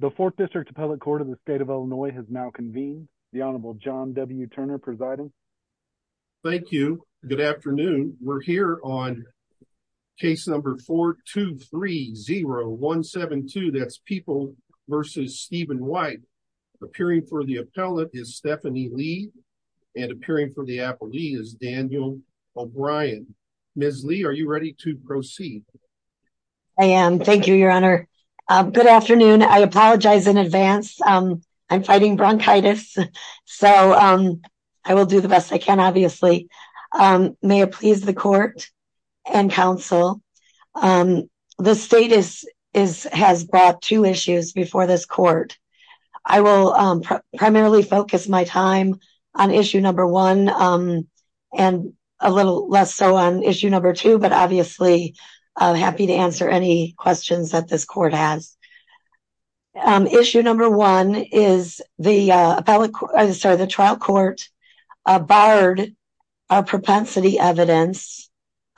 The Fourth District Appellate Court of the State of Illinois has now convened. The Honorable John W. Turner presiding. Thank you. Good afternoon. We're here on case number 4-2-3-0-1-7-2. That's People versus Stephen White. Appearing for the appellate is Stephanie Lee and appearing for the appellee is Daniel O'Brien. Ms. Lee, are you ready to proceed? I am. Thank you, Your Honor. Good afternoon. I apologize in advance. I'm fighting bronchitis, so I will do the best I can, obviously. May it please the court and counsel. The state has brought two issues before this court. I will primarily focus my time on issue number one and a little less so on issue number two, but obviously, I'm happy to answer any questions that this court has. Issue number one is the trial court barred our propensity evidence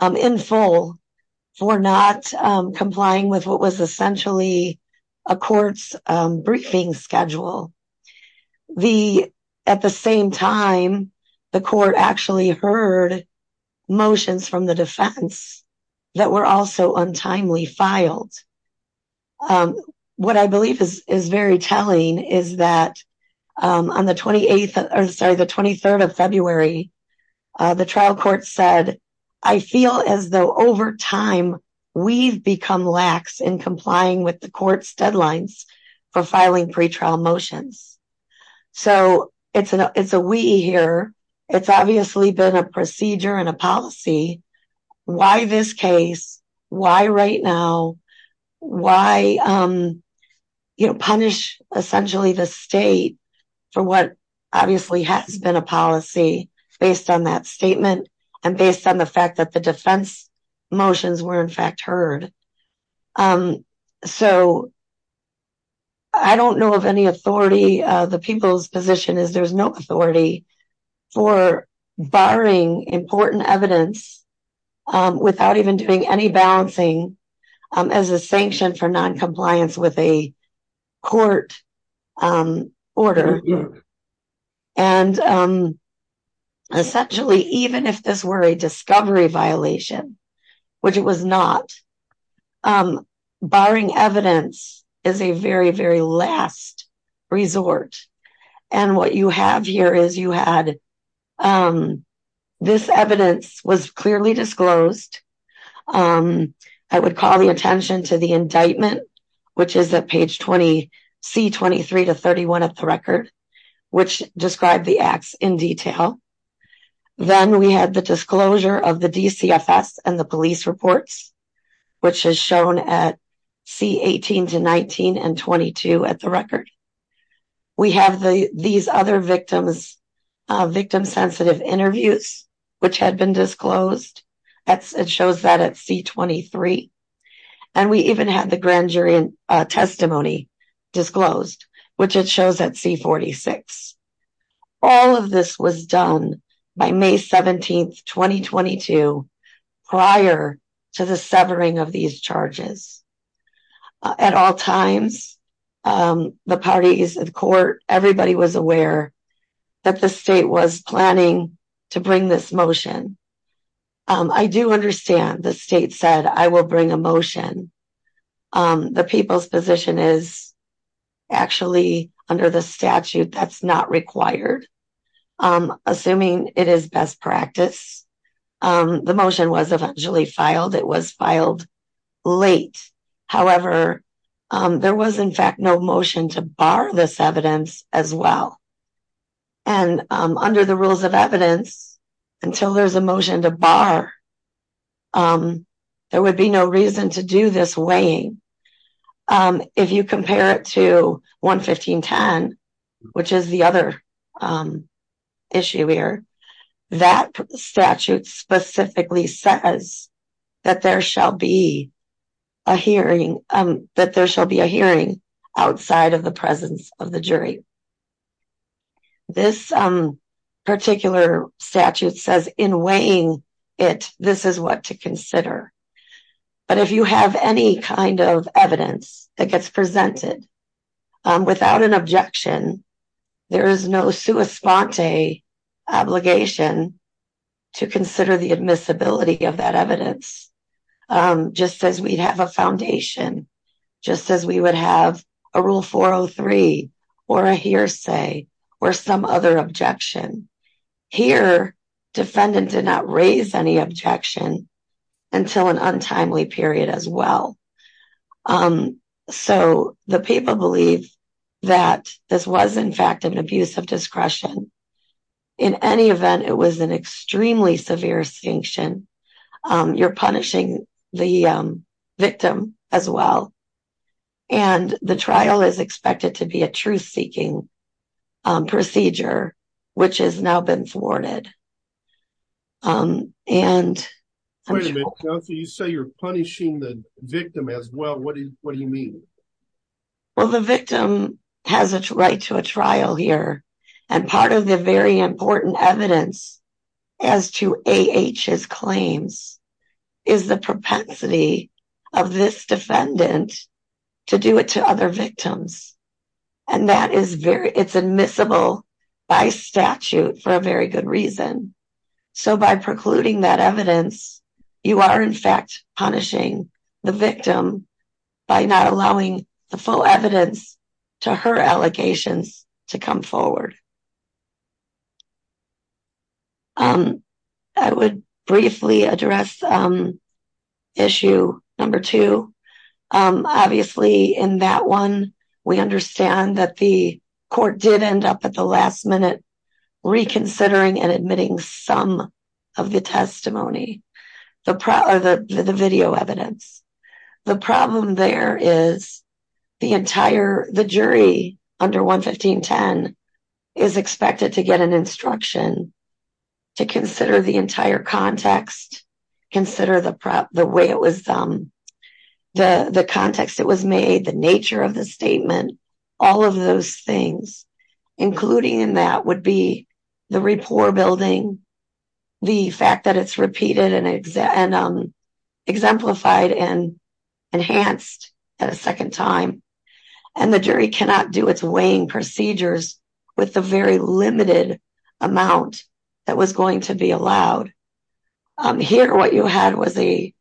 in full for not complying with what was essentially a court's briefing schedule. At the same time, the court actually heard motions from the defense that were also untimely filed. What I believe is very telling is that on the 23rd of February, the trial court said, I feel as though over time, we've become lax in complying with the court's deadlines for filing pretrial motions. It's a we here. It's obviously been a procedure and a policy. Why this case? Why right now? Why punish essentially the state for what obviously has been a policy based on that statement and based on the fact that the defense motions were in fact heard. I don't know of any authority. The people's position is there's no authority for barring important evidence without even doing any balancing as a sanction for non-compliance with a court order. Essentially, even if this were a discovery violation, which it was not, barring evidence is a very, very last resort. What you have here is you had this evidence was clearly disclosed. I would call the attention to the indictment, which is at page 20, C23 to 31 of the record, which described the acts in detail. Then we had the disclosure of the DCFS and the police reports, which is shown at C18 to 19 and at C22 at the record. We have these other victims, victim sensitive interviews, which had been disclosed. It shows that at C23. We even had the grand jury testimony disclosed, which it shows at C46. All of this was done by May 17, 2022, prior to the severing of these charges. At all times, the parties of the court, everybody was aware that the state was planning to bring this motion. I do understand the state said, I will bring a motion. The people's position is actually under the statute that's not required. Assuming it is best practice, the motion was eventually filed. It was filed late. However, there was in fact, no motion to bar this evidence as well. Under the rules of evidence, until there's a motion to bar, there would be no reason to do this weighing. If you compare it to 11510, which is the other issue here, that statute specifically says that there shall be a hearing outside of the presence of the jury. This particular statute says in weighing it, this is what to consider. But if you have any kind of evidence that gets presented without an objection, there is no sua sponte obligation to consider the admissibility of that evidence, just as we'd have a foundation, just as we would have a Rule 403, or a hearsay, or some other objection. Here, defendant did not raise any objection until an untimely period as in fact of an abuse of discretion. In any event, it was an extremely severe extinction. You're punishing the victim as well. And the trial is expected to be a truth-seeking procedure, which has now been thwarted. And you say you're punishing the victim as well. What do you mean? Well, the victim has a right to a trial here. And part of the very important evidence as to A.H.'s claims is the propensity of this defendant to do it to other victims. And that is very, it's admissible by statute for a very good reason. So by precluding that evidence, you are in fact punishing the victim by not allowing the full evidence to her allegations to come forward. I would briefly address issue number two. Obviously in that one, we understand that the court did end up at the last minute reconsidering and admitting some of the testimony, the video evidence. The problem there is the entire, the jury under 11510 is expected to get an instruction to consider the entire context, consider the way it was, the context it was made, the nature of the statement, all of those things, including in that would be the rapport building, the fact that it's repeated and exemplified and enhanced at a second time. And the jury cannot do its weighing procedures with the very limited amount that was going to be allowed. Here, what you had was a,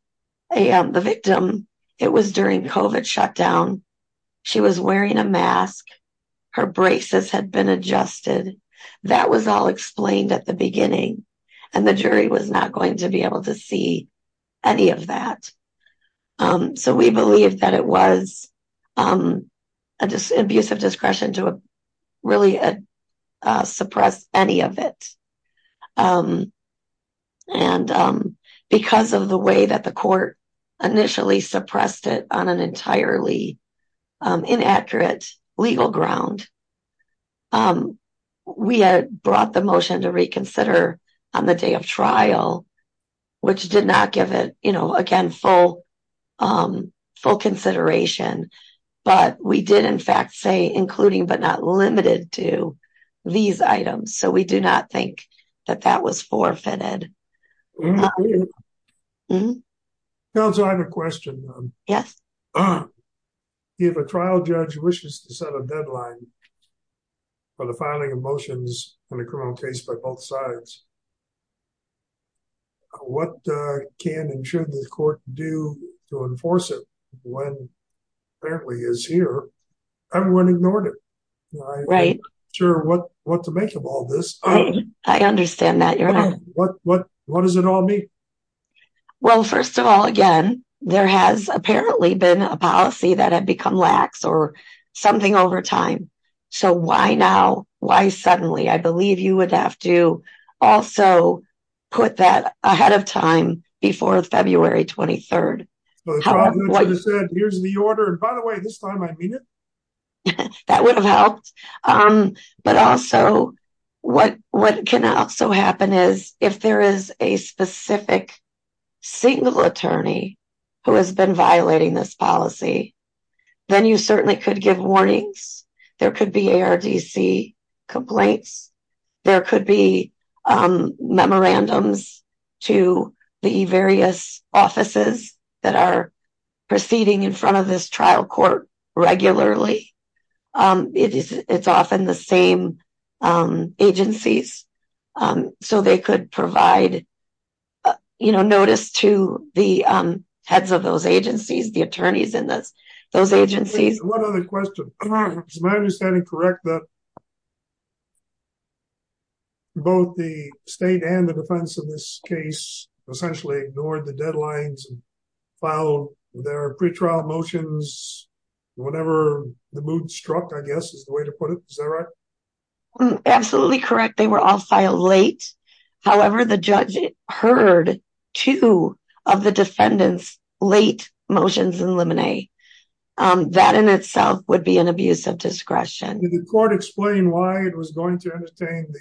the victim, it was during COVID shutdown. She was wearing a mask. Her braces had been adjusted. That was all explained at the beginning. And the jury was not going to be able to see any of that. So we believe that it was an abuse of discretion to really suppress any of it. And because of the way that the court initially suppressed it on an entirely inaccurate legal ground, we had brought the motion to reconsider on the day of trial, which did not give it, again, full consideration, but we did in fact say, that that was forfeited. Counsel, I have a question. Yes. If a trial judge wishes to set a deadline for the filing of motions in a criminal case by both sides, what can and should the court do to enforce it when apparently is here? Everyone ignored it. Right. I'm not sure what to make of all this. I understand that. What does it all mean? Well, first of all, again, there has apparently been a policy that had become lax or something over time. So why now? Why suddenly? I believe you would have to also put that ahead of time before February 23rd. Here's the order. And by the way, this time I mean it. That would have helped. But also, what can also happen is if there is a specific single attorney who has been violating this policy, then you certainly could give warnings. There could be ARDC complaints. There could be memorandums to the various offices that are seating in front of this trial court regularly. It's often the same agencies. So they could provide notice to the heads of those agencies, the attorneys in those agencies. One other question. Is my understanding correct that both the state and the defense of this case essentially ignored the deadlines and filed their pre-trial motions whenever the mood struck, I guess is the way to put it. Is that right? Absolutely correct. They were all filed late. However, the judge heard two of the defendants' late motions in limine. That in itself would be an abuse of discretion. Did the court explain why it was going to entertain the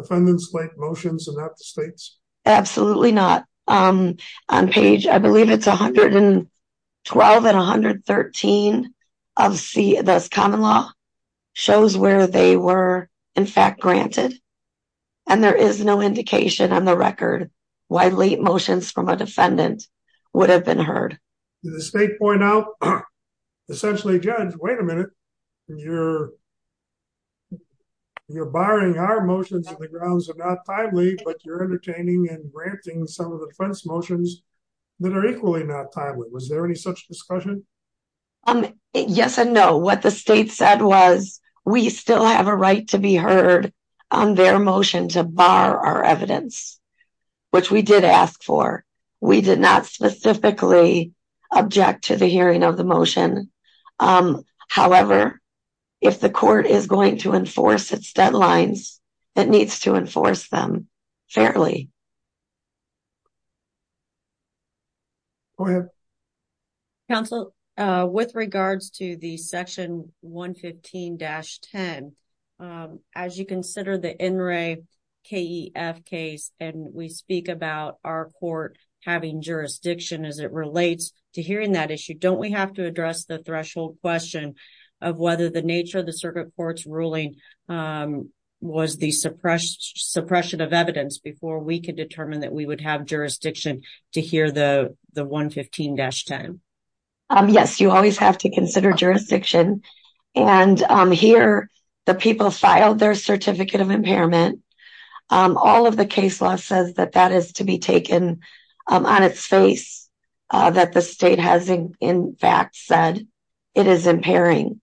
defendant's late motions and not the state's? Absolutely not. On page, I believe it's 112 and 113 of the common law shows where they were in fact granted. And there is no indication on the record why late motions from a defendant would have been heard. Did the state point out essentially, Judge, wait a minute, you're barring our motions on the grounds of not timely, but you're entertaining and granting some of the defense motions that are equally not timely. Was there any such discussion? Yes and no. What the state said was we still have a right to be heard on their motion to bar our evidence, which we did ask for. We did not specifically object to the hearing of the motion. However, if the court is going to enforce its deadlines, it needs to enforce them fairly. Counsel, with regards to the section 115-10, as you consider the NRAE-KEF case and we speak about our court having jurisdiction as it relates to hearing that issue, don't we have to address the threshold question of whether the nature of the circuit court's ruling was the suppression of evidence before we could determine that we would have jurisdiction to hear the 115-10? Yes, you always have to consider jurisdiction. And here, the people filed their Certificate of Impairment. All of the case law says that that is to be taken on its face that the state has in fact said it is impairing.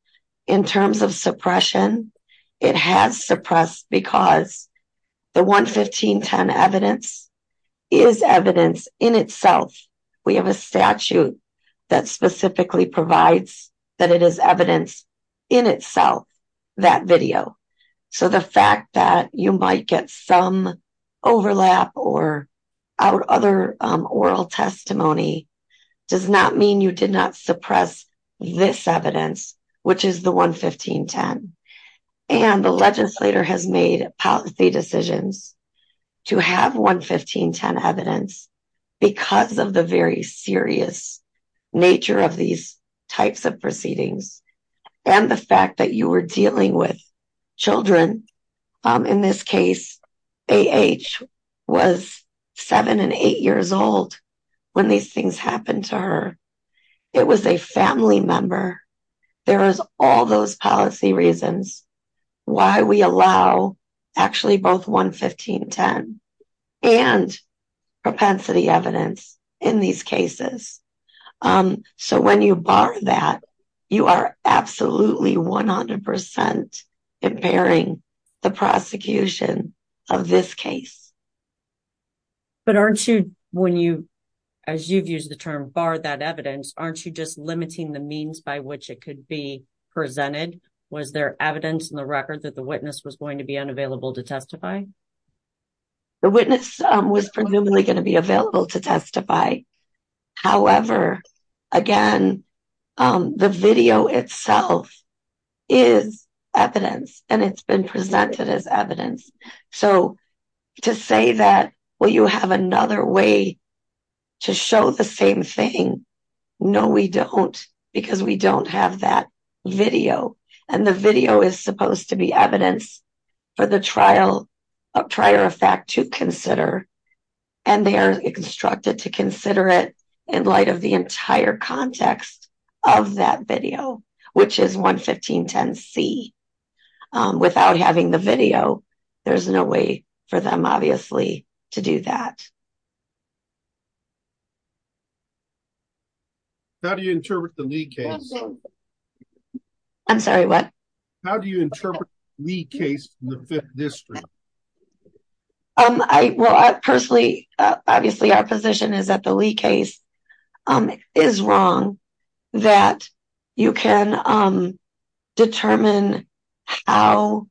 In terms of suppression, it has suppressed because the 115-10 evidence is evidence in itself. We have a statute that specifically provides that it is evidence in itself, that video. So the fact that you might get some overlap or other oral testimony does not mean you did not suppress this evidence, which is the 115-10. And the legislator has made policy decisions to have 115-10 evidence because of the very serious nature of these types of proceedings and the fact that you were dealing with children. In this case, A.H. was 7 and 8 years old when these things happened to her. It was a family member. There is all those policy reasons why we allow actually both 115-10 and propensity evidence in these cases. So when you bar that, you are absolutely 100% impairing the prosecution of this case. But aren't you, as you've used the term, bar that evidence, aren't you just limiting the means by which it could be presented? Was there evidence in the record that the witness was going to be unavailable to testify? The witness was presumably going to be available to testify. However, again, the video itself is evidence and it's been presented as evidence. So to say that, well, you have another way to show the same thing. No, we don't, because we don't have that video. And the video is supposed to be evidence for the trial of prior effect to consider. And they are instructed to consider it in light of the entire context of that video, which is 115-10C. Without having the video, there's no way for them, obviously, to do that. How do you interpret the Lee case? I'm sorry, what? How do you interpret the case in the Fifth District? Well, personally, obviously our position is that the Lee case is wrong, that you can determine how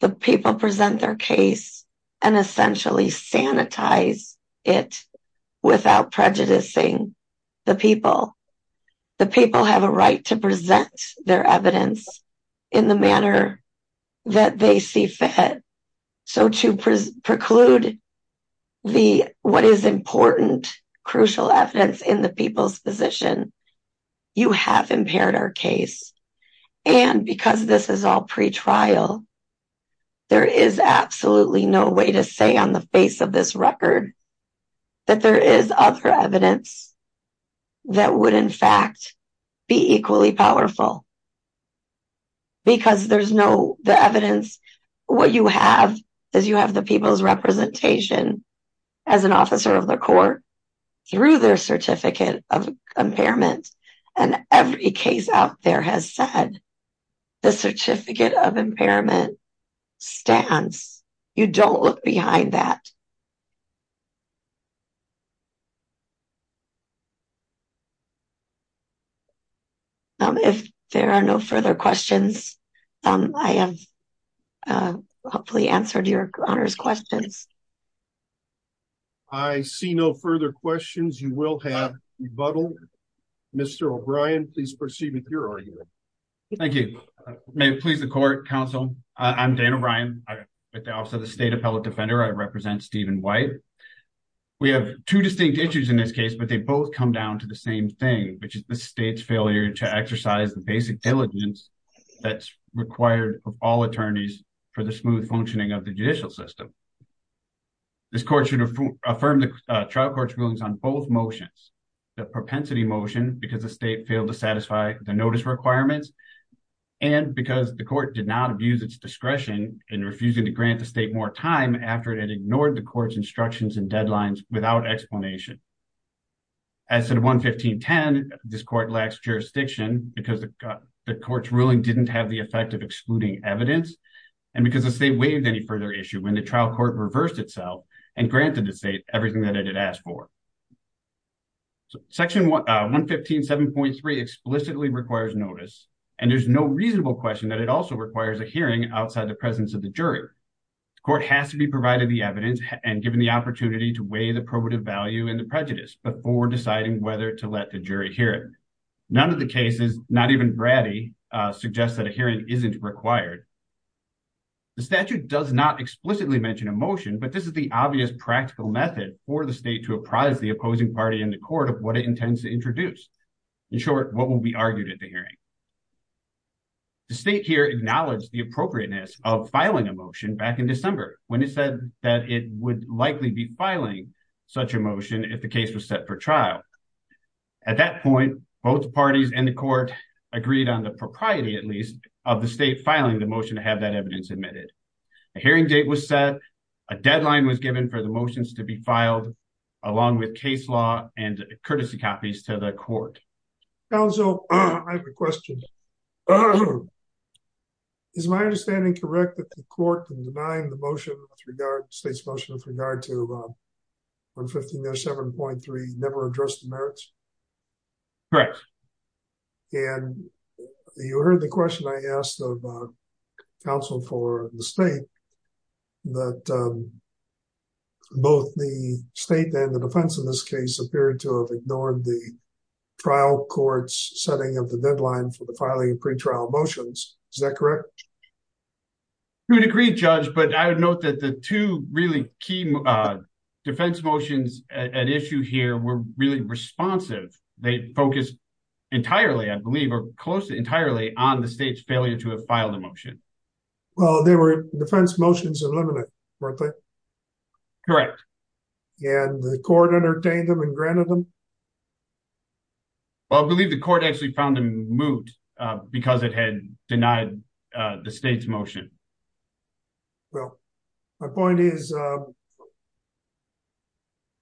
the people present their case and essentially sanitize it without prejudicing the people. The people have a right to present their evidence in the manner that they see fit. So to preclude what is important, crucial evidence in the people's position, you have impaired our case. And because this is all pre-trial, there is absolutely no way to say on the face of this record that there is other evidence that would, in fact, be equally powerful. Because there's no evidence. What you have is you have the people's representation as an officer of the court through their certificate of impairment. And every case out there has said the certificate of impairment stands. You don't look behind that. Thank you. If there are no further questions, I have hopefully answered your Honor's questions. I see no further questions. You will have rebuttal. Mr. O'Brien, please proceed with your argument. Thank you. May it please the court, counsel. I'm Dan O'Brien. I'm with the Office State Appellate Defender. I represent Stephen White. We have two distinct issues in this case, but they both come down to the same thing, which is the state's failure to exercise the basic diligence that's required of all attorneys for the smooth functioning of the judicial system. This court should affirm the trial court's rulings on both motions, the propensity motion, because the state failed to satisfy the notice requirements, and because the court did not use its discretion in refusing to grant the state more time after it had ignored the court's instructions and deadlines without explanation. As to the 115.10, this court lacks jurisdiction because the court's ruling didn't have the effect of excluding evidence, and because the state waived any further issue when the trial court reversed itself and granted the state everything that it had asked for. Section 115.7.3 explicitly requires notice, and there's no reasonable question that it also requires a hearing outside the presence of the jury. The court has to be provided the evidence and given the opportunity to weigh the probative value and the prejudice before deciding whether to let the jury hear it. None of the cases, not even Braddy, suggests that a hearing isn't required. The statute does not explicitly mention a motion, but this is the obvious practical method for the state to apprise the opposing party in the court of what it intends to introduce. In short, what will be argued at the hearing. The state here acknowledged the appropriateness of filing a motion back in December when it said that it would likely be filing such a motion if the case was set for trial. At that point, both parties in the court agreed on the propriety, at least, of the state filing the motion to have that evidence admitted. A hearing date was set, a deadline was given for the motions to be filed, along with case law and courtesy copies to the court. Counsel, I have a question. Is my understanding correct that the court can deny the motion with regard, the state's motion, with regard to 115.7.3 never addressed the merits? Correct. And you heard the question I asked of counsel for the state, that both the state and the defense in this case appeared to have ignored the trial court's setting of the deadline for the filing of pretrial motions. Is that correct? You would agree, Judge, but I would note that the two really key defense motions at issue here were really responsive. They focused entirely, I believe, or close to entirely on the state's failure to have filed a motion. Well, they were defense motions eliminate, weren't they? Correct. And the court entertained them and granted them? Well, I believe the court actually found them moot because it had denied the state's motion. Well, my point is,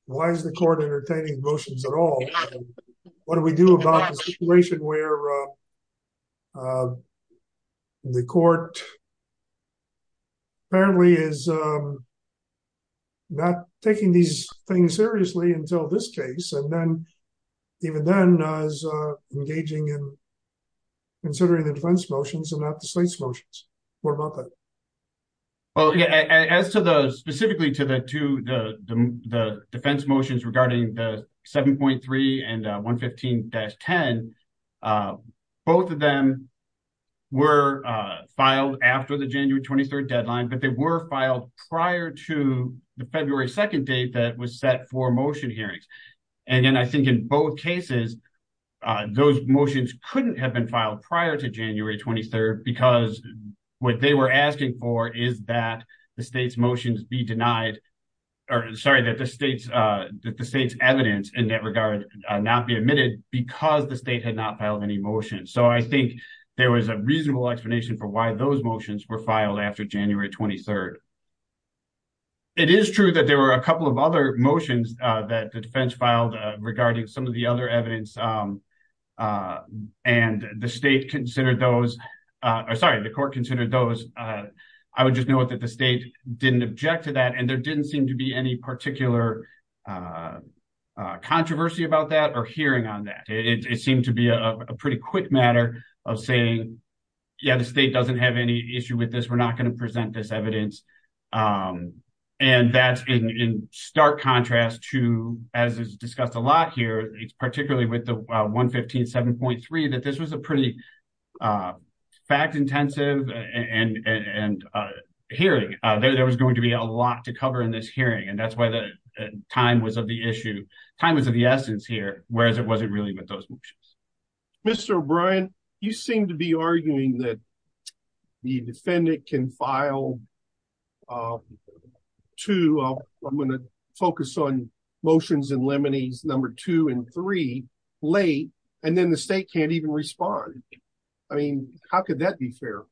why is the court entertaining motions at all? What do we do about the situation where the court apparently is not taking these things seriously until this case, and then, even then, is engaging in considering the defense motions and not the state's motions. Well, as to the, specifically to the defense motions regarding the 7.3 and 115-10, both of them were filed after the January 23rd deadline, but they were filed prior to the February 2nd date that was set for motion hearings. And again, I think in both cases, those motions couldn't have been filed prior to January 23rd because what they were asking for is that the state's motions be denied, or sorry, that the state's evidence in that regard not be admitted because the state had not filed any motions. So, I think there was a reasonable explanation for why those motions were filed after January 23rd. It is true that there were a couple of other motions that the defense filed regarding some of the other evidence, and the state considered those, or sorry, the court considered those. I would just note that the state didn't object to that, and there didn't seem to be any particular controversy about that or hearing on that. It seemed to be a pretty quick matter of saying, yeah, the state doesn't have any issue with this. We're not going to present this evidence. And that's in stark contrast to, as is discussed a lot here, particularly with the 115.7.3, that this was a pretty fact-intensive hearing. There was going to be a lot to cover in this hearing, and that's why the time was of the issue, time was of the essence here, whereas it wasn't really with those motions. Mr. O'Brien, you seem to be arguing that the defendant can file two, I'm going to focus on motions and liminees, number two and three late, and then the state can't even respond. I mean, how could that be fair?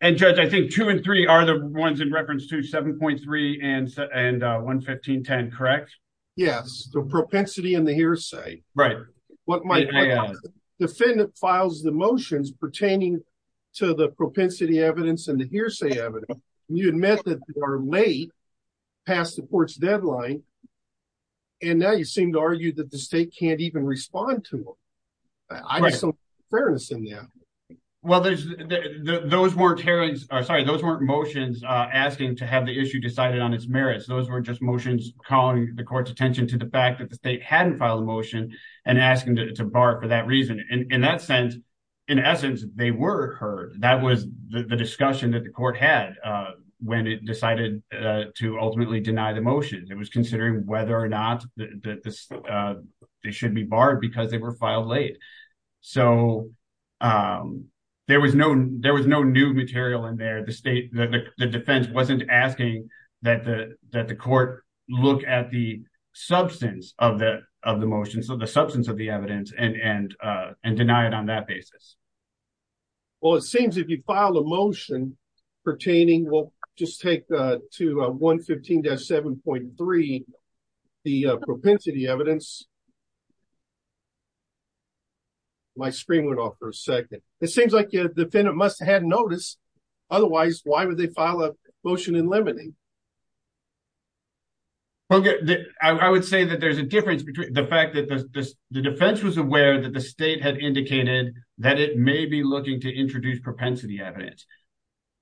And Judge, I think two and three are the ones in reference to 7.3 and 115.10, correct? Yes, the propensity and the hearsay. Right. Defendant files the motions pertaining to the propensity evidence and the hearsay evidence. You admit that they are late, past the court's deadline, and now you seem to argue that the state can't even respond to them. I need some fairness in that. Well, those weren't motions asking to have the issue decided on its merits. Those were just calling the court's attention to the fact that the state hadn't filed a motion and asking to bar it for that reason. In that sense, in essence, they were heard. That was the discussion that the court had when it decided to ultimately deny the motion. It was considering whether or not they should be barred because they were filed late. So there was no new material in there. The defense wasn't asking that the court look at the substance of the motion, so the substance of the evidence, and deny it on that basis. Well, it seems if you file a motion pertaining, we'll just take to 115-7.3, the propensity evidence. My screen went off for a second. It seems like the defendant must have had notice, otherwise why would they file a motion in limine? I would say that there's a difference between the fact that the defense was aware that the state had indicated that it may be looking to introduce propensity evidence.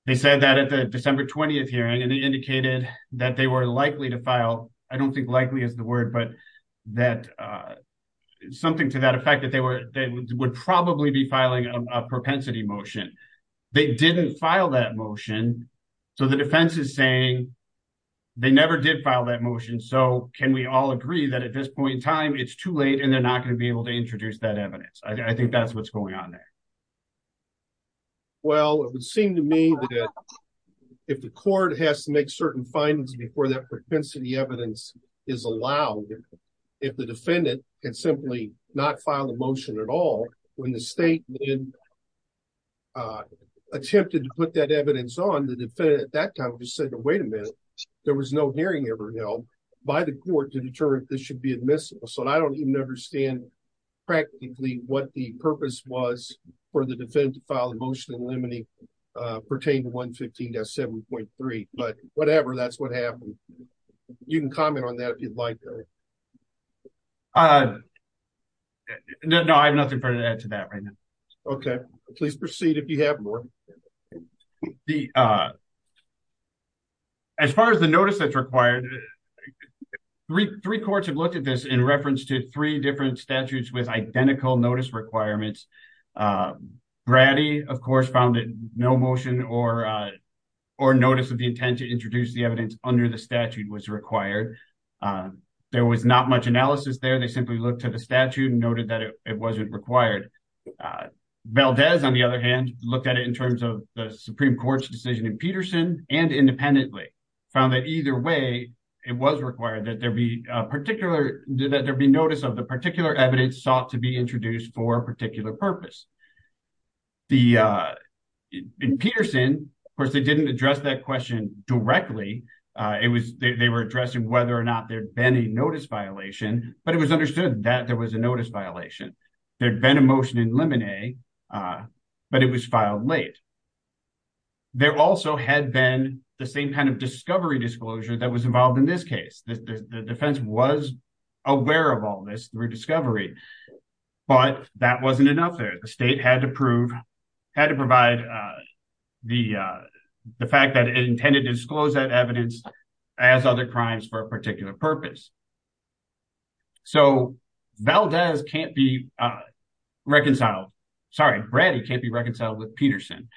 They said that at the December 20th hearing, and they indicated that they were likely to file, I don't think likely is the word, but something to that effect that they would probably be filing a propensity motion. They didn't file that motion, so the defense is saying they never did file that motion, so can we all agree that at this point in time it's too late and they're not going to be able to introduce that evidence. I think that's what's going on there. Well, it would seem to me that if the court has to make certain findings before that propensity evidence is allowed, if the defendant can simply not file a motion at all, when the state then attempted to put that evidence on, the defendant at that time just said, wait a minute, there was no hearing ever held by the court to determine if this should be admissible, so I don't even understand practically what the purpose was for the defendant to file a motion in limine pertaining to 115-7.3, but whatever, that's what happened. You can comment on that if you'd like, Gary. No, I have nothing further to add to that right now. Okay, please proceed if you have more. As far as the notice that's required, three courts have looked at this in reference to three different statutes with identical notice requirements. Brady, of course, found that no motion or notice of the intent to introduce the statute was required. There was not much analysis there. They simply looked to the statute and noted that it wasn't required. Valdez, on the other hand, looked at it in terms of the Supreme Court's decision in Peterson and independently, found that either way, it was required that there be notice of the particular evidence sought to be introduced for a particular purpose. In Peterson, of course, they didn't address that question directly. They were addressing whether or not there had been a notice violation, but it was understood that there was a notice violation. There had been a motion in limine, but it was filed late. There also had been the same kind of discovery disclosure that was involved in this case. The defense was aware of all this rediscovery, but that wasn't enough there. The state had to provide the fact that it intended to disclose that evidence as other crimes for a particular purpose. So, Brady can't be reconciled with Peterson,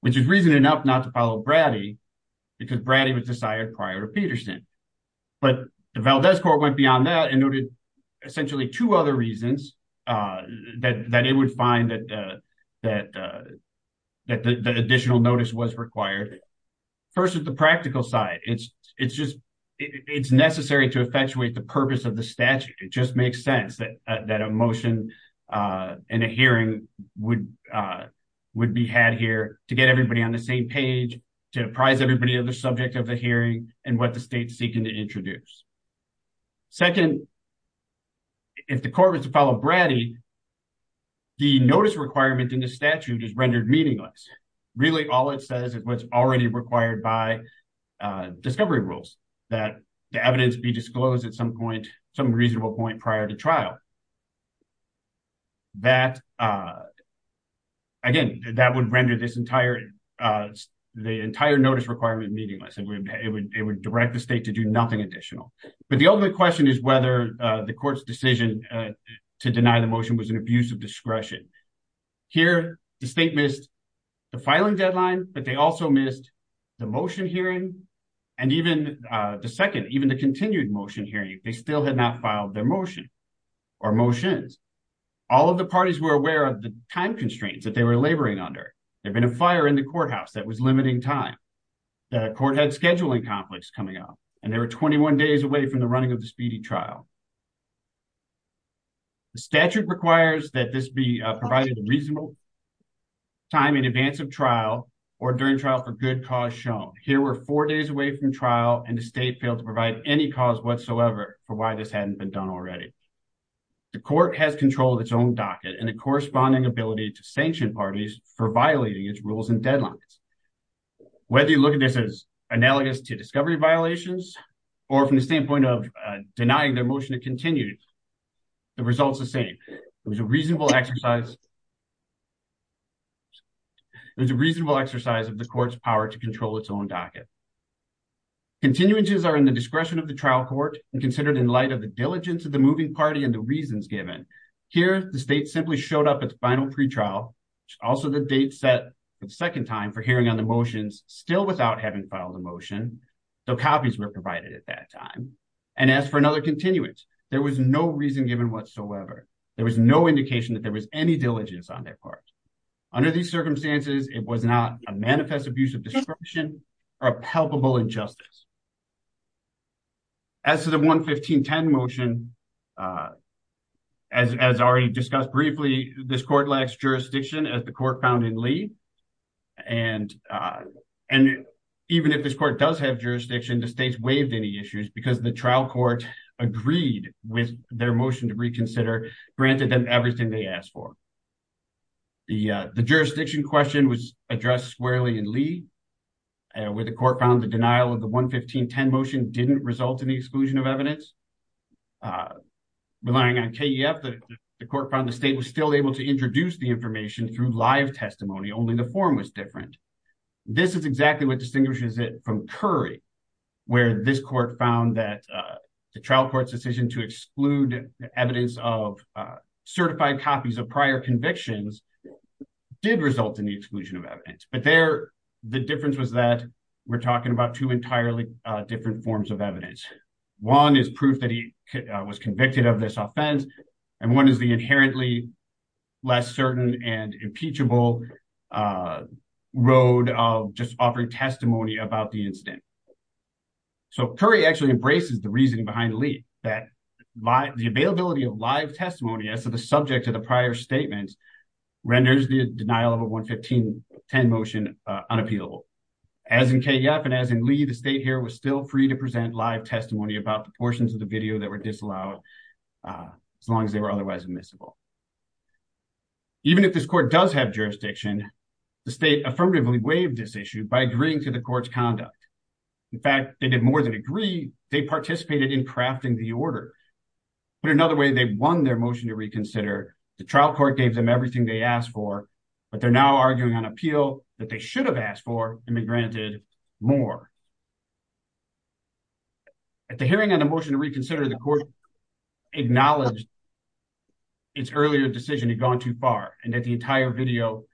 which is reason enough not to follow Brady because Brady was desired prior to essentially two other reasons that it would find that the additional notice was required. First is the practical side. It's necessary to effectuate the purpose of the statute. It just makes sense that a motion and a hearing would be had here to get everybody on the same page, to apprise everybody of the subject of the hearing and what the state is seeking to introduce. Second, if the court was to follow Brady, the notice requirement in the statute is rendered meaningless. Really, all it says is what's already required by discovery rules, that the evidence be disclosed at some point, some reasonable point prior to trial. That, again, that would render this entire, the entire notice requirement meaningless. It would direct the state to do nothing additional. But the ultimate question is whether the court's decision to deny the motion was an abuse of discretion. Here, the state missed the filing deadline, but they also missed the motion hearing. And even the second, even the continued motion hearing, they still had not filed their motion or motions. All of the parties were aware of the time constraints that they were laboring under. There'd been a fire in the courthouse that was limiting time. The court had scheduling conflicts coming up, and they were 21 days away from the running of the speedy trial. The statute requires that this be provided a reasonable time in advance of trial or during trial for good cause shown. Here, we're four days away from trial, and the state failed to provide any cause whatsoever for why this hadn't been done already. The court has controlled its own docket and the corresponding ability to sanction parties for violating its deadlines. Whether you look at this as analogous to discovery violations or from the standpoint of denying their motion to continue, the result's the same. It was a reasonable exercise. It was a reasonable exercise of the court's power to control its own docket. Continuances are in the discretion of the trial court and considered in light of the diligence of the moving party and the reasons given. Here, the state simply showed up at the final pretrial, also the date set for the second time for hearing on the motions, still without having filed a motion, though copies were provided at that time, and asked for another continuance. There was no reason given whatsoever. There was no indication that there was any diligence on their part. Under these circumstances, it was not a manifest abuse of discretion or a palpable injustice. As to the 11510 motion, as already discussed briefly, this court lacks jurisdiction as the court found in Lee. And even if this court does have jurisdiction, the state's waived any issues because the trial court agreed with their motion to reconsider, granted them everything they asked for. The jurisdiction question was addressed squarely in Lee, where the court found denial of the 11510 motion didn't result in the exclusion of evidence. Relying on KEF, the court found the state was still able to introduce the information through live testimony, only the form was different. This is exactly what distinguishes it from Curry, where this court found that the trial court's decision to exclude evidence of certified copies of prior convictions did result in the exclusion of evidence. But there, the difference was that we're talking about two entirely different forms of evidence. One is proof that he was convicted of this offense, and one is the inherently less certain and impeachable road of just offering testimony about the incident. So, Curry actually embraces the reasoning behind Lee, that the availability of live testimony as to the subject of the prior statement renders the denial of a 11510 motion unappealable. As in KEF and as in Lee, the state here was still free to present live testimony about the portions of the video that were disallowed, as long as they were otherwise admissible. Even if this court does have jurisdiction, the state affirmatively waived this issue by agreeing to the court's conduct. In fact, they did more than agree, they participated in crafting the order. Put another way, they won their motion to reconsider. The trial court gave them everything they asked for, but they're now arguing on appeal that they should have asked for and been granted more. At the hearing on the motion to reconsider, the court acknowledged its earlier decision had gone too far, and that the entire video,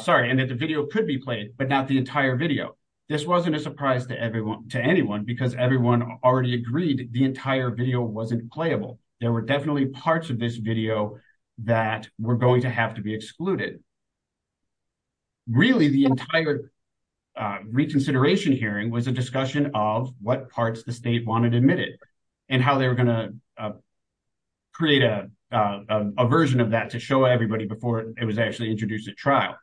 sorry, and that the video could be played, but not the entire video. This wasn't a surprise to everyone, to anyone, because everyone already agreed the were definitely parts of this video that were going to have to be excluded. Really, the entire reconsideration hearing was a discussion of what parts the state wanted admitted and how they were going to create a version of that to show everybody before it was actually introduced at trial.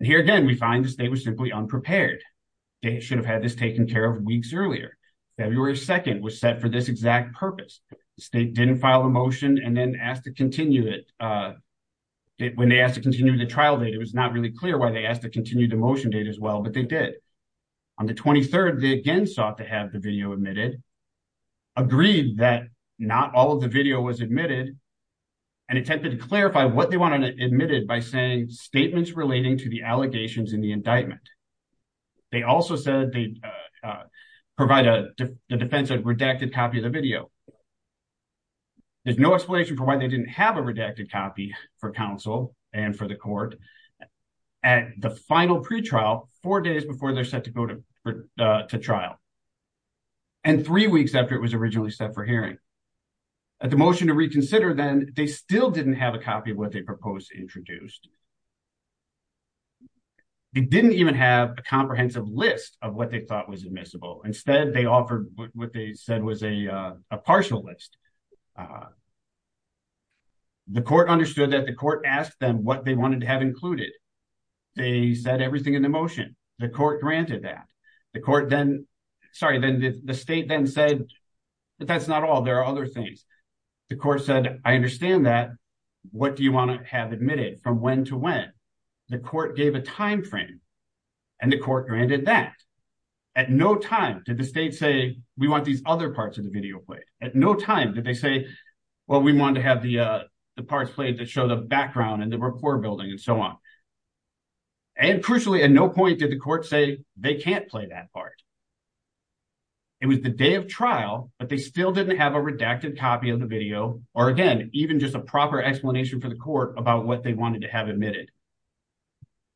Here again, we find the state was simply unprepared. They should have had this taken care of weeks earlier. February 2 was set for this exact purpose. The state didn't file a motion and then asked to continue it. When they asked to continue the trial date, it was not really clear why they asked to continue the motion date as well, but they did. On the 23rd, they again sought to have the video admitted, agreed that not all of the video was admitted, and attempted to clarify what they wanted admitted by saying statements relating to the allegations in the indictment. They also said they'd provide the defense a redacted copy of the video. There's no explanation for why they didn't have a redacted copy for counsel and for the court at the final pretrial, four days before they're set to go to trial, and three weeks after it was originally set for hearing. At the motion to reconsider, then, they still didn't have a copy of what they proposed introduced. It didn't even have a comprehensive list of what they thought was admissible. Instead, they offered what they said was a partial list. The court understood that the court asked them what they wanted to have included. They said everything in the motion. The court granted that. The state then said, but that's not all. There are other things. The court said, I understand that. What do you want to have admitted? From when to when? The court gave a time frame, and the court granted that. At no time did the state say, we want these other parts of the video played. At no time did they say, well, we wanted to have the parts played that show the background and the rapport building and so on. And crucially, at no point did the court say they can't play that part. It was the day of trial, but they still didn't have a redacted copy of the video, or again, even just a proper explanation for the court about what they wanted to have admitted.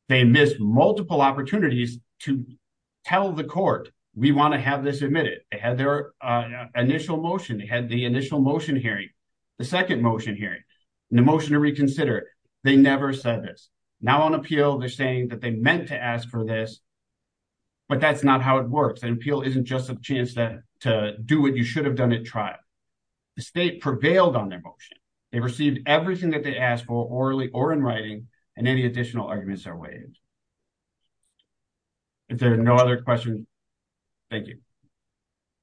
They missed multiple opportunities to tell the court, we want to have this admitted. They had their initial motion. They had the initial motion hearing, the second motion hearing, and the motion to reconsider. They never said this. Now on appeal, they're saying that they meant to ask for this, but that's not how it works. An appeal isn't just a chance to do what you should have done at trial. The state prevailed on their motion. They received everything that they asked for orally or in writing, and any additional arguments are waived. If there are no other questions, thank you.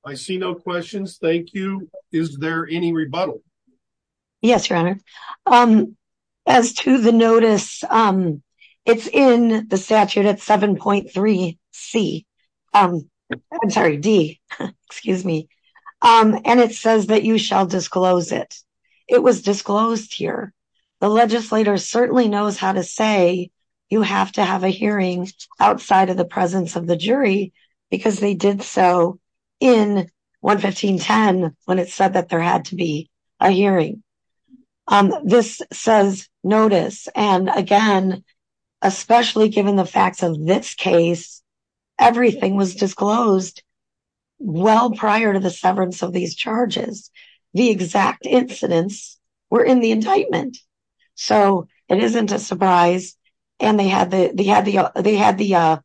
I see no questions, thank you. Is there any rebuttal? Yes, your honor. As to the notice, it's in the statute at 7.3 C, I'm sorry, D, excuse me, and it says that you shall disclose it. It was disclosed here. The legislator certainly knows how to say you have to have a hearing outside of the presence of the jury, because they did so in 115.10 when it said that there had to be a hearing. This says notice, and again, especially given the facts of this case, everything was disclosed well prior to the severance of these charges. The exact incidents were in the indictment, so it isn't a surprise, and they had the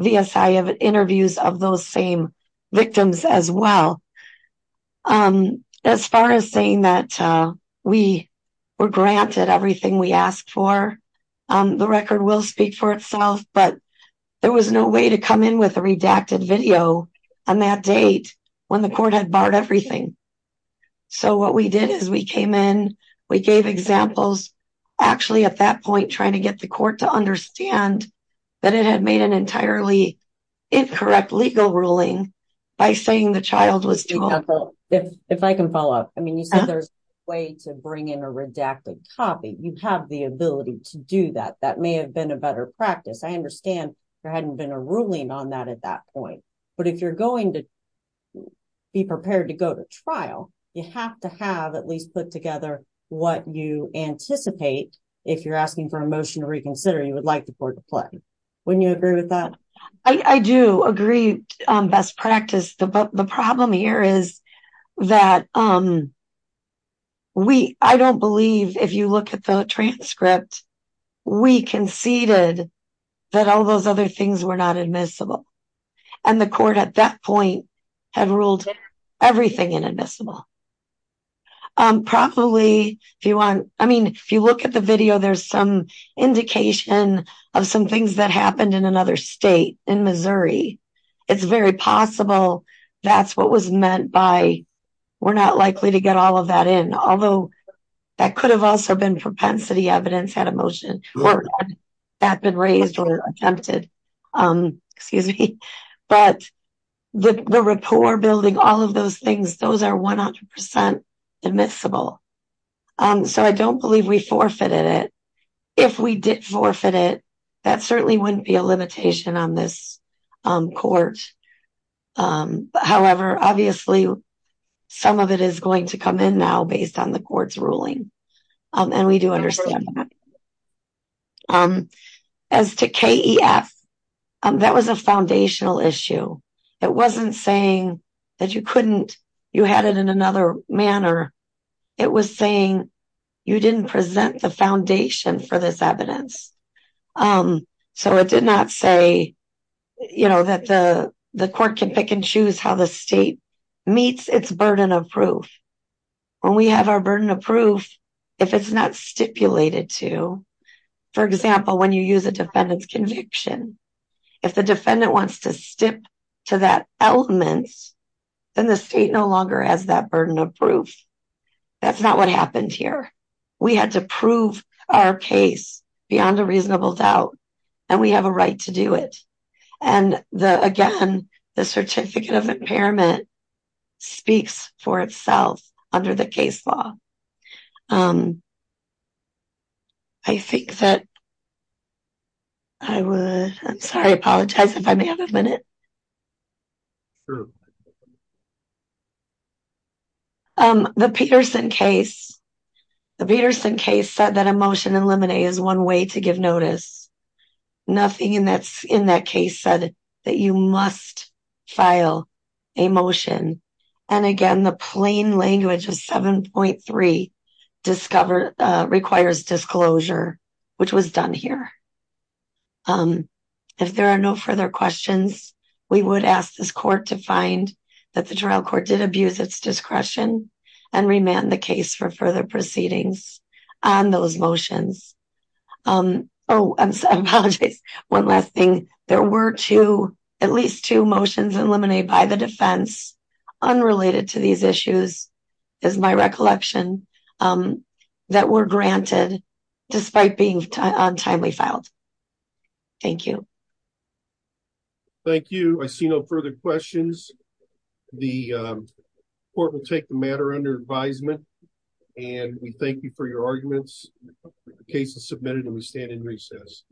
VSI interviews of those same victims as well. As far as saying that we were granted everything we asked for, the record will speak for itself, but there was no way to come in with a redacted video on that date when the court had barred everything. So what we did is we came in, we gave examples, actually at that point trying to get the court to understand that it had made an entirely incorrect legal ruling by saying the child was If I can follow up, I mean you said there's a way to bring in a redacted copy. You have the ability to do that. That may have been a better practice. I understand there hadn't been a ruling on that at that point, but if you're going to be prepared to go to trial, you have to have at least put together what you anticipate if you're asking for a motion to reconsider you would like the problem here is that I don't believe if you look at the transcript, we conceded that all those other things were not admissible, and the court at that point had ruled everything inadmissible. Probably if you want, I mean if you look at the video, there's some indication of some things that happened in another state, in Missouri. It's very possible that's what was meant by we're not likely to get all of that in, although that could have also been propensity evidence had a motion or that been raised or attempted. But the rapport building, all of those things, those are 100% admissible. So I don't believe we forfeited it. If we did forfeit it, that certainly wouldn't be a limitation on this court. However, obviously some of it is going to come in now based on the court's ruling, and we do understand that. As to KEF, that was a foundational issue. It wasn't saying that you couldn't, you had it in another manner. It was saying you didn't present the foundation for this evidence. So it did not say, you know, that the court can pick and choose how the state meets its burden of proof. When we have our burden of proof, if it's not stipulated to, for example, when you use a defendant's conviction, if the defendant wants to stip to that element, then the state no longer has that burden of proof. That's not what happened here. We had to prove our case beyond a reasonable doubt, and we have a right to do it. And the, again, the Certificate of Impairment speaks for itself under the case law. I think that I would, I'm sorry, I apologize if I may have a Peterson case. The Peterson case said that a motion in limine is one way to give notice. Nothing in that case said that you must file a motion. And again, the plain language of 7.3 requires disclosure, which was done here. If there are no further questions, we would ask this court to find that the trial court did abuse its discretion and remand the case for further proceedings on those motions. Oh, I'm sorry, I apologize. One last thing. There were two, at least two motions in limine by the defense, unrelated to these issues, is my recollection, that were granted despite being on timely filed. Thank you. Thank you. I see no further questions. The court will take the matter under advisement and we thank you for your arguments. The case is submitted and we stand in recess.